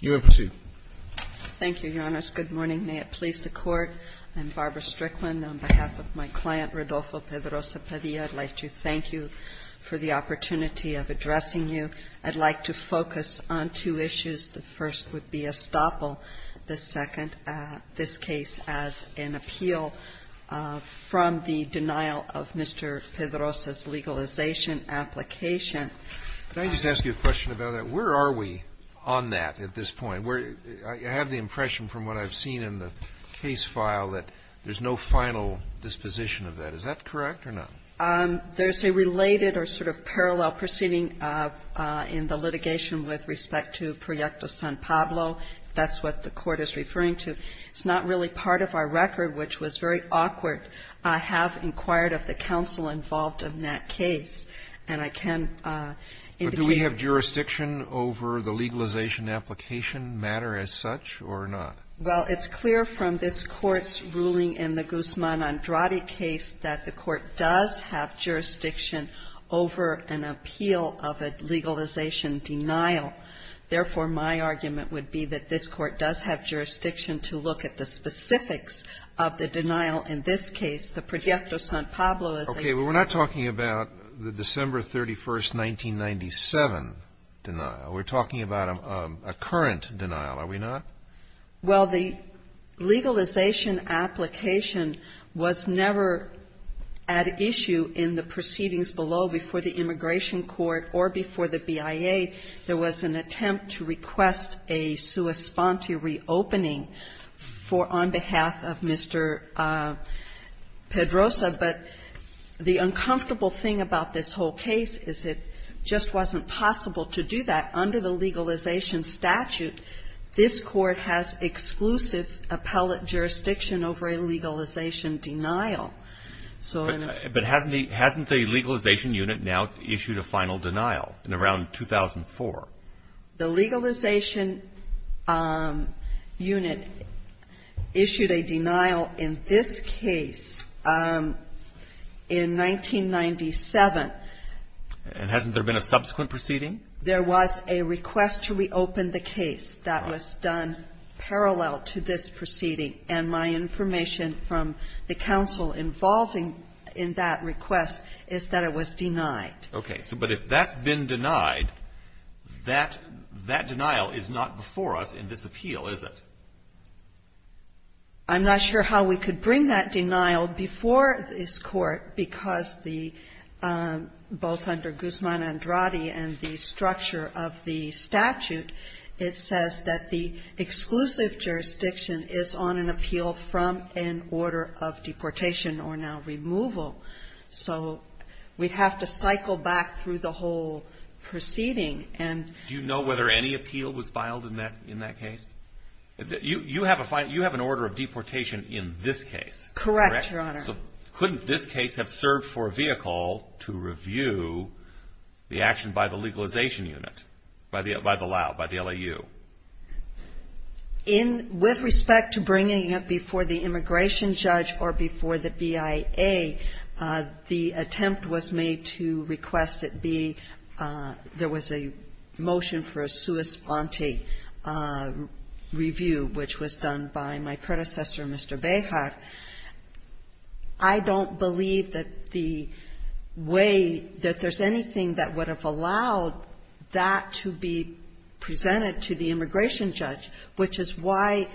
You may proceed. BARBARA STRICKLAND Thank you, Your Honor. Good morning. May it please the Court, I'm Barbara Strickland. On behalf of my client, Rodolfo Pedroza-Padilla, I'd like to thank you for the opportunity of addressing you. I'd like to focus on two issues. The first would be estoppel. The second, this case as an appeal from the denial of Mr. Pedroza's legalization application. RODOLFO PEDROZA-PADILLA May I just ask you a question about that? Where are we on that at this point? I have the impression from what I've seen in the case file that there's no final disposition of that. Is that correct or not? BARBARA STRICKLAND There's a related or sort of parallel proceeding in the litigation with respect to Proyecto San Pablo, if that's what the Court is referring to. It's not really part of our record, which was very awkward. I have inquired of the counsel involved in that case, and I can indicate that. RODOLFO PEDROZA-PADILLA But do we have jurisdiction over the legalization application matter as such or not? BARBARA STRICKLAND Well, it's clear from this Court's ruling in the Guzman-Andrade case that the Court does have jurisdiction over an appeal of a legalization denial. Therefore, my argument would be that this Court does have jurisdiction to look at the specifics of the denial in this case. The Proyecto San Pablo is a ---- RODOLFO PEDROZA-PADILLA Okay. Well, we're not talking about the December 31st, 1997 denial. We're talking about a current denial, are we not? BARBARA STRICKLAND Well, the legalization application was never at issue in the proceedings below before the Immigration Court or before the BIA. There was an attempt to request a sua sponte reopening for ---- on behalf of Mr. Pedroza, but the uncomfortable thing about this whole case is it just wasn't possible to do that under the legalization statute. This Court has exclusive appellate jurisdiction over a legalization denial. So in a ---- The legalization unit issued a denial in this case in 1997. RODOLFO PEDROZA-PADILLA And hasn't there been a subsequent proceeding? BARBARA STRICKLAND There was a request to reopen the case that was done parallel to this proceeding, and my information from the counsel involving in that request is that it was denied. RODOLFO PEDROZA-PADILLA Okay. But if that's been denied, that denial is not before us in this appeal, is it? BARBARA STRICKLAND I'm not sure how we could bring that denial before this Court because the ---- both under Guzman-Andrade and the structure of the statute, it says that the exclusive jurisdiction is on an appeal from an order of deportation or now removal. So we'd have to cycle back through the whole proceeding and ---- RODOLFO PEDROZA-PADILLA Do you know whether any appeal was filed in that case? You have an order of deportation in this case. BARBARA STRICKLAND Correct, Your Honor. RODOLFO PEDROZA-PADILLA So couldn't this case have served for a vehicle to review the action by the legalization unit, by the LAU? BARBARA STRICKLAND With respect to bringing it before the immigration judge or before the BIA, the attempt was made to request it be ---- there was a motion for a sua sponte review, which was done by my predecessor, Mr. Behar. I don't believe that the way that there's anything that would have allowed that to be presented to the immigration judge, which is why,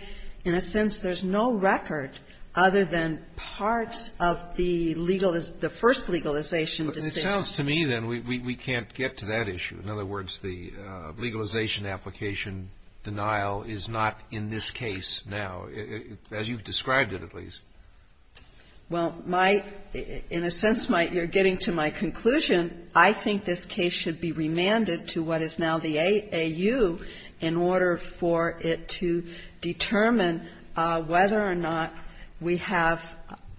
in a sense, there's no record other than parts of the legal ---- the first legalization decision. RODOLFO PEDROZA-PADILLA It sounds to me, then, we can't get to that issue. In other words, the legalization application denial is not in this case now, as you've described it, at least. BARBARA STRICKLAND Well, my ---- in a sense, my ---- you're getting to my conclusion. I think this case should be remanded to what is now the AAU in order for it to determine whether or not we have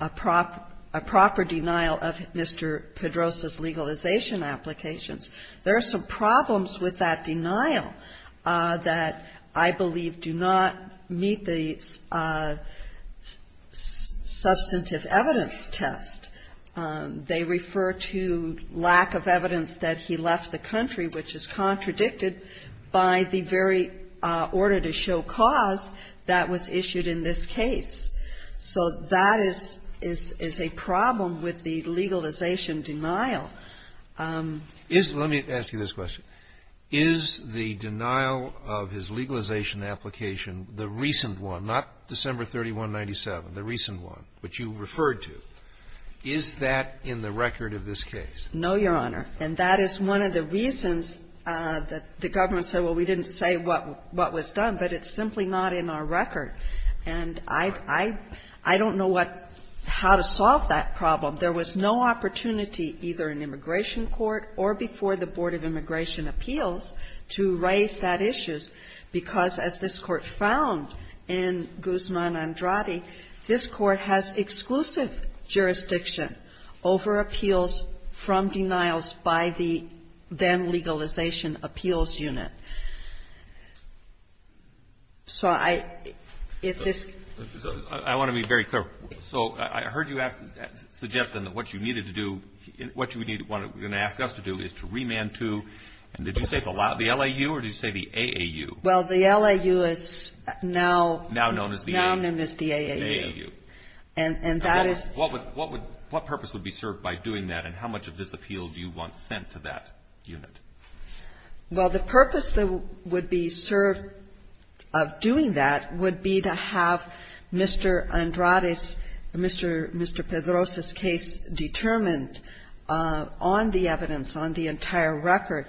a proper ---- a proper denial of Mr. Pedroza's legalization applications. There are some problems with that denial that I believe do not meet the substantive evidence test. They refer to lack of evidence that he left the country, which is contradicted by the very order to show cause that was issued in this case. So that is a problem with the legalization denial. RODOLFO PEDROZA-PADILLA Let me ask you this question. Is the denial of his legalization application, the recent one, not December 3197, the recent one, which you referred to, is that in the record of this case? BARBARA STRICKLAND No, Your Honor. And that is one of the reasons that the government said, well, we didn't say what was done. But it's simply not in our record. And I don't know what ---- how to solve that problem. There was no opportunity either in immigration court or before the Board of Immigration Appeals to raise that issue, because as this Court found in Guzman-Andrade, this Court has exclusive jurisdiction over appeals from denials by the then-legalization appeals unit. So I ---- if this ---- RODOLFO PEDROZA-PADILLA I want to be very clear. So I heard you ask the suggestion that what you needed to do, what you need to want to ask us to do is to remand to, did you say the LAU or did you say the AAU? BARBARA STRICKLAND Well, the LAU is now ---- RODOLFO PEDROZA-PADILLA Now known as the AAU. BARBARA STRICKLAND And that is ---- RODOLFO PEDROZA-PADILLA What would ---- what purpose would be served by doing that? And how much of this appeal do you want sent to that unit? BARBARA STRICKLAND Well, the purpose that would be served of doing that would be to have Mr. Andrade's, Mr. Pedroza's case determined on the evidence, on the entire record.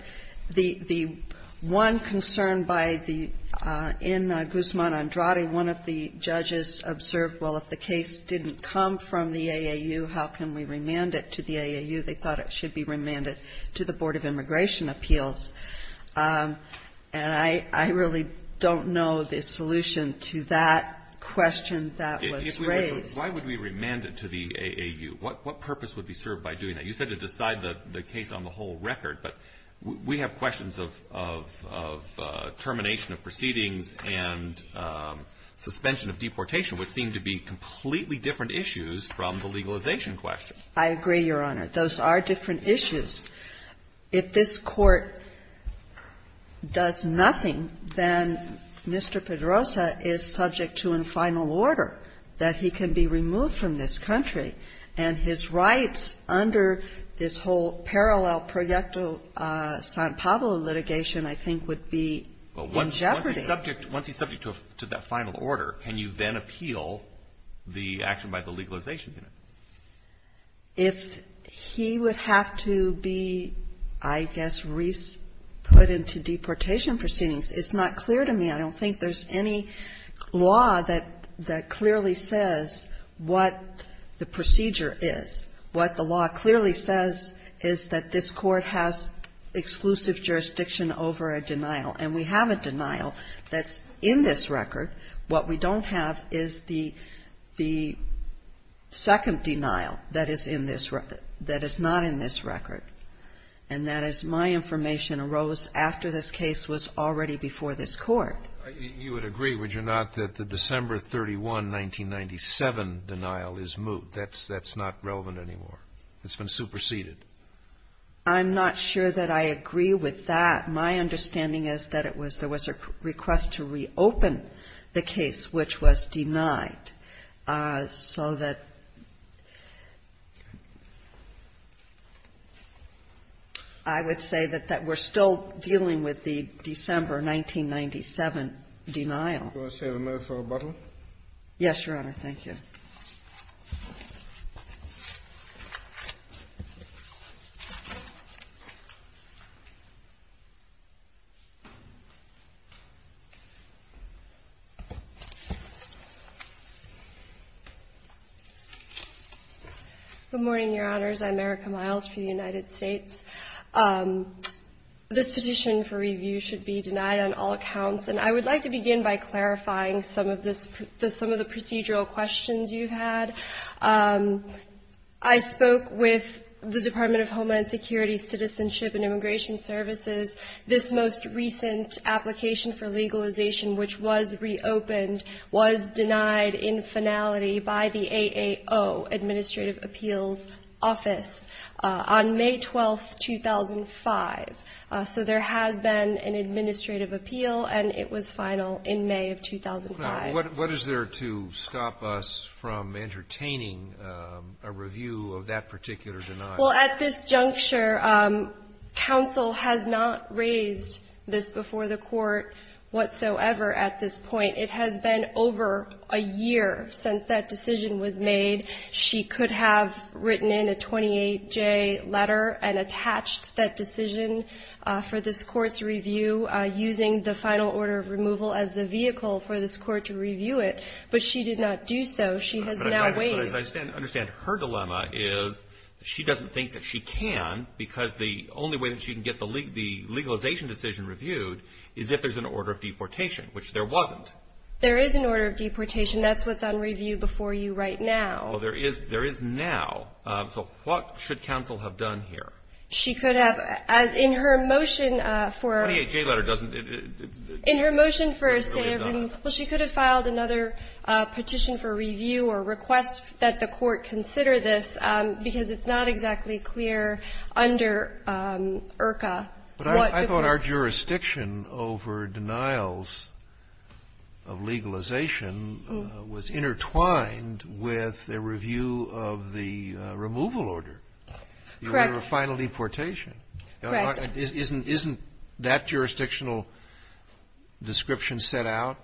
The one concern by the ---- in Guzman-Andrade, one of the judges observed, well, if the case didn't come from the AAU, how can we remand it to the AAU? They thought it should be remanded to the Board of Immigration Appeals. And I really don't know the solution to that question that was raised. RODOLFO PEDROZA-PADILLA Why would we remand it to the AAU? What purpose would be served by doing that? You said to decide the case on the whole record, but we have questions of termination of proceedings and suspension of deportation, which seem to be completely different issues from the legalization question. BARBARA STRICKLAND I agree, Your Honor. Those are different issues. If this Court does nothing, then Mr. Pedroza is subject to a final order that he can be removed from this country, and his rights under this whole parallel Proyecto San Pablo litigation I think would be in jeopardy. RODOLFO PEDROZA-PADILLA Once he's subject to that final order, can you then appeal the action by the Legalization Unit? BARBARA STRICKLAND If he would have to be, I guess, put into deportation proceedings, it's not clear to me. I don't think there's any law that clearly says what the procedure is. What the law clearly says is that this Court has exclusive jurisdiction over a denial, and we have a denial that's in this record. What we don't have is the second denial that is in this record, that is not in this record, and that is my information arose after this case was already before this Court. Scalia. You would agree, would you not, that the December 31, 1997 denial is moot? That's not relevant anymore. It's been superseded. BARBARA STRICKLAND I'm not sure that I agree with that. My understanding is that it was there was a request to reopen the case which was denied. This has been placed on the record after this one December, 1997, denial. JUDGE SCHROEDER You want to set an oath for rebuttal? BARBARA STRICKLAND Yes, Your Honor, thank you. Good morning, Your Honors, I'm Erica Miles for the United States. This petition for review should be denied on all accounts, and I would like to begin by clarifying some of the procedural questions you've had. I spoke with the Department of Homeland Security, Citizenship and Immigration Services. This most recent application for legalization, which was reopened, was denied in finality by the AAO, Administrative Appeals Office, on May 12, 2005. So there has been an administrative appeal, and it was final in May of 2005. Sotomayor, what is there to stop us from entertaining a review of that particular denial? Well, at this juncture, counsel has not raised this before the Court whatsoever at this point. It has been over a year since that decision was made. She could have written in a 28-J letter and attached that decision for this Court's to review it, but she did not do so. She has now waived. But as I understand, her dilemma is she doesn't think that she can, because the only way that she can get the legalization decision reviewed is if there's an order of deportation, which there wasn't. There is an order of deportation. That's what's on review before you right now. Well, there is now. So what should counsel have done here? She could have, in her motion for a 28-J letter, doesn't it... In her motion for a statement... She could have filed another petition for review or request that the Court consider this, because it's not exactly clear under IRCA what the case... But I thought our jurisdiction over denials of legalization was intertwined with a review of the removal order, the order of final deportation. Correct. Isn't that jurisdictional description set out?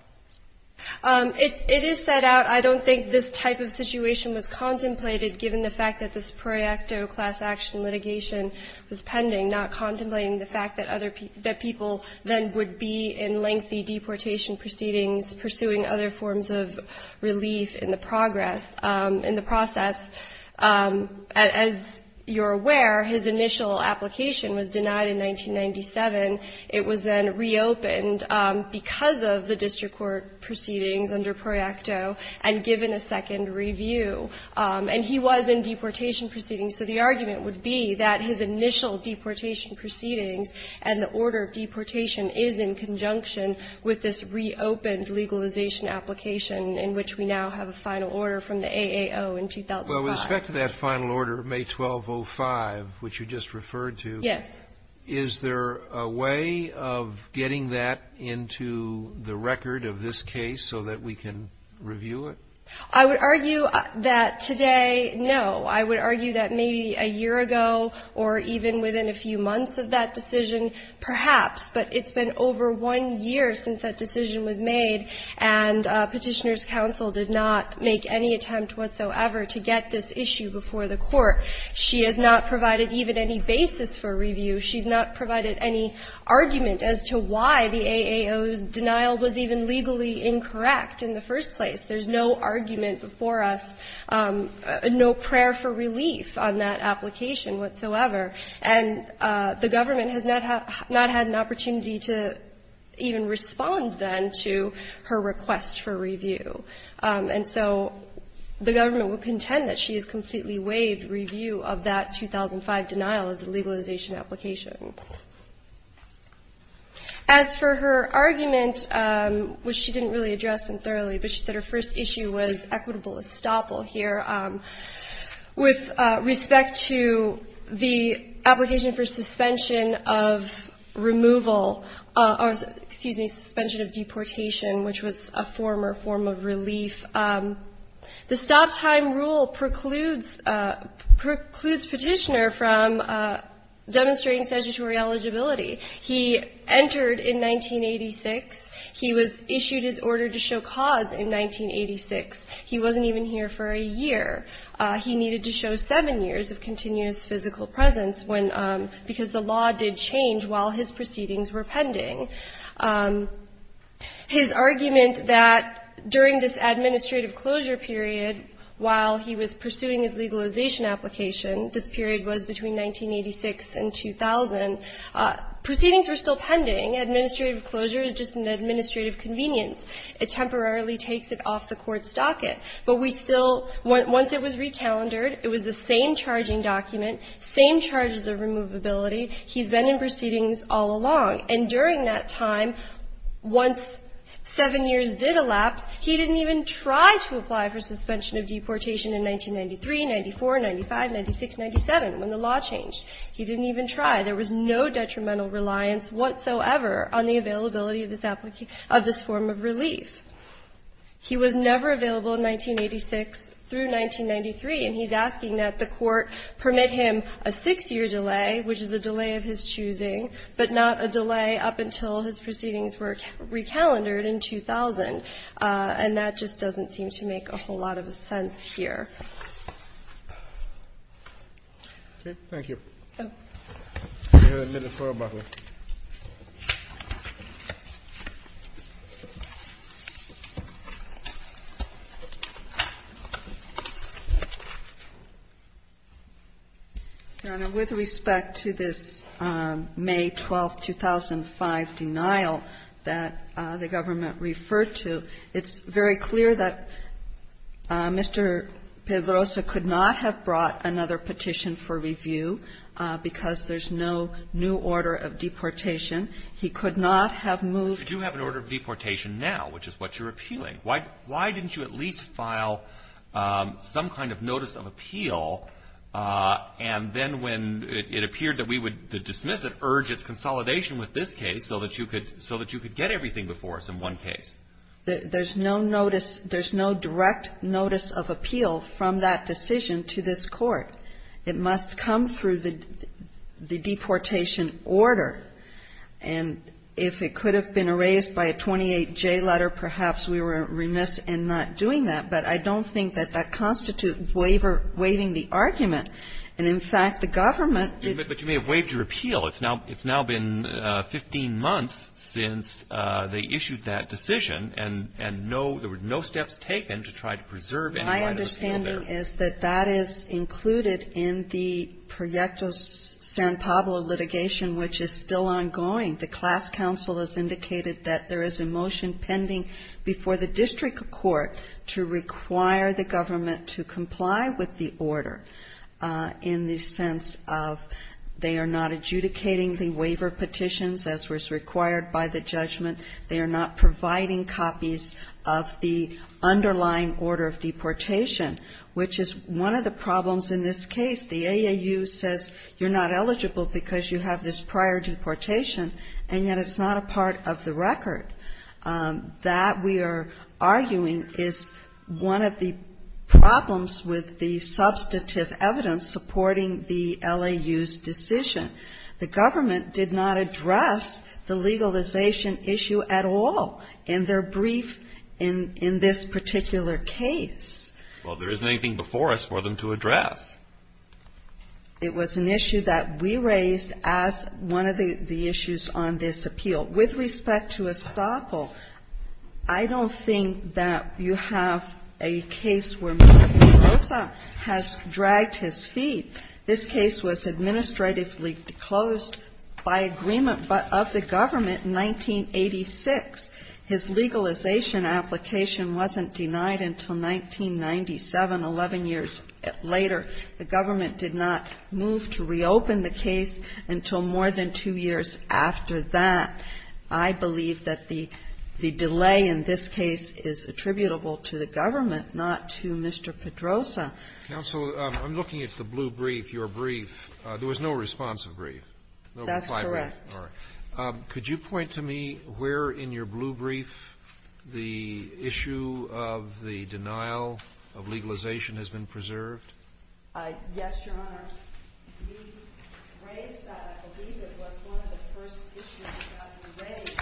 It is set out. I don't think this type of situation was contemplated, given the fact that this pro-acto class-action litigation was pending, not contemplating the fact that other people then would be in lengthy deportation proceedings pursuing other forms of relief in the progress, in the process. As you're aware, his initial application was denied in 1997. It was then reopened because of the district court proceedings under pro-acto and given a second review. And he was in deportation proceedings. So the argument would be that his initial deportation proceedings and the order of deportation is in conjunction with this reopened legalization application in which we now have a final order from the AAO in 2005. Well, with respect to that final order, May 1205, which you just referred to... Yes. ...is there a way of getting that into the record of this case so that we can review it? I would argue that today, no. I would argue that maybe a year ago or even within a few months of that decision, perhaps, but it's been over one year since that decision was made, and Petitioner Council did not make any attempt whatsoever to get this issue before the court. She has not provided even any basis for review. She's not provided any argument as to why the AAO's denial was even legally incorrect in the first place. There's no argument before us, no prayer for relief on that application whatsoever. And the government has not had an opportunity to even respond, then, to her request for review. And so the government will contend that she has completely waived review of that 2005 denial of the legalization application. As for her argument, which she didn't really address in thoroughly, but she said her first issue was equitable estoppel here. With respect to the application for suspension of removal or, excuse me, suspension of deportation, which was a former form of relief, the stop time rule precludes Petitioner from demonstrating statutory eligibility. He entered in 1986. He was issued his order to show cause in 1986. He wasn't even here for a year. He needed to show seven years of continuous physical presence because the law did change while his proceedings were pending. His argument that during this administrative closure period, while he was pursuing his legalization application, this period was between 1986 and 2000, proceedings were still pending. Administrative closure is just an administrative convenience. It temporarily takes it off the Court's docket. But we still, once it was recalendered, it was the same charging document, same charges of removability. He's been in proceedings all along. And during that time, once seven years did elapse, he didn't even try to apply for suspension of deportation in 1993, 94, 95, 96, 97, when the law changed. He didn't even try. There was no detrimental reliance whatsoever on the availability of this form of relief. He was never available in 1986 through 1993, and he's asking that the Court permit him a six-year delay, which is a delay of his choosing, but not a delay up until his proceedings were recalendered in 2000. And that just doesn't seem to make a whole lot of sense here. Thank you. Let's go ahead and let the Court rebuttal. Your Honor, with respect to this May 12th, 2005, denial that the government referred to, it's very clear that Mr. Pettit's claim that there was a delay of his not have brought another petition for review because there's no new order of deportation. He could not have moved to the court. But you have an order of deportation now, which is what you're appealing. Why didn't you at least file some kind of notice of appeal? And then when it appeared that we would dismiss it, urge its consolidation with this case so that you could get everything before us in one case. There's no notice. There's no direct notice of appeal from that decision to this Court. It must come through the deportation order. And if it could have been erased by a 28J letter, perhaps we were remiss in not doing that, but I don't think that that constitutes waiving the argument. And, in fact, the government did not. But you may have waived your appeal. It's now been 15 months since they issued that decision, and no – there were no steps taken to try to preserve any right of appeal there. My understanding is that that is included in the Proyecto San Pablo litigation, which is still ongoing. The class counsel has indicated that there is a motion pending before the district court to require the government to comply with the order in the sense of they are not adjudicating the waiver petitions as was required by the judgment. They are not providing copies of the underlying order of deportation, which is one of the problems in this case. The AAU says you're not eligible because you have this prior deportation, and yet it's not a part of the record. That we are arguing is one of the problems with the substantive evidence supporting the LAU's decision. The government did not address the legalization issue at all in their brief in this particular case. Well, there isn't anything before us for them to address. It was an issue that we raised as one of the issues on this appeal. With respect to Estoppel, I don't think that you have a case where Mr. De Rosa has This case was administratively closed by agreement of the government in 1986. His legalization application wasn't denied until 1997, 11 years later. The government did not move to reopen the case until more than two years after that. I believe that the delay in this case is attributable to the government, not to Mr. Pedroza. Counsel, I'm looking at the blue brief, your brief. There was no responsive brief. That's correct. Could you point to me where in your blue brief the issue of the denial of legalization has been preserved? Yes, Your Honor. We raised that. I believe it was one of the first issues that we raised,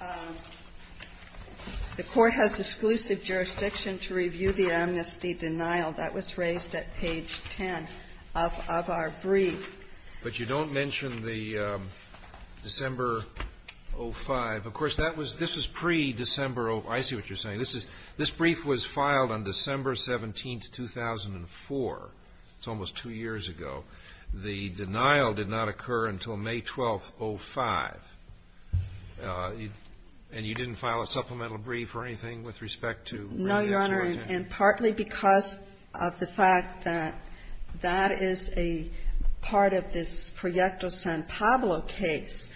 that the Court has exclusive jurisdiction to review the amnesty denial. That was raised at page 10 of our brief. But you don't mention the December 05. Of course, that was pre-December 05. I see what you're saying. This brief was filed on December 17, 2004. It's almost two years ago. The denial did not occur until May 12, 05, and you didn't file a supplemental brief or anything with respect to review of the amnesty? No, Your Honor, and partly because of the fact that that is a part of this Proyecto San Pablo case,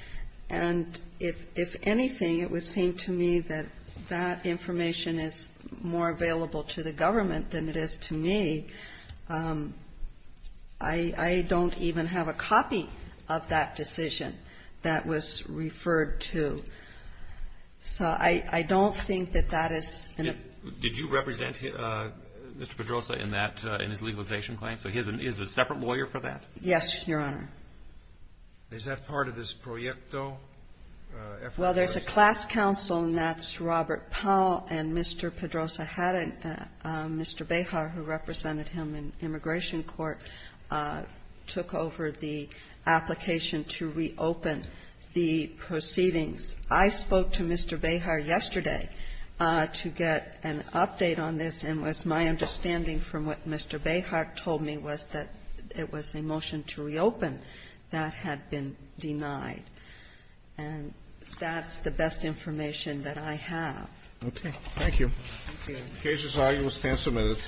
and if anything, it would seem to me that that information is more available to the government than it is to me. I don't even have a copy of that decision that was referred to. So I don't think that that is an important issue. Did you represent Mr. Pedrosa in that, in his legalization claim? So he is a separate lawyer for that? Yes, Your Honor. Is that part of this Proyecto effort? Well, there's a class counsel, and that's Robert Powell, and Mr. Pedrosa had a Mr. Behar, who represented him in immigration court, took over the application to reopen the proceedings. I spoke to Mr. Behar yesterday to get an update on this, and it was my understanding from what Mr. Behar told me was that it was a motion to reopen that had been denied. And that's the best information that I have. Okay. Thank you. Thank you. The case is argued and will stand submitted.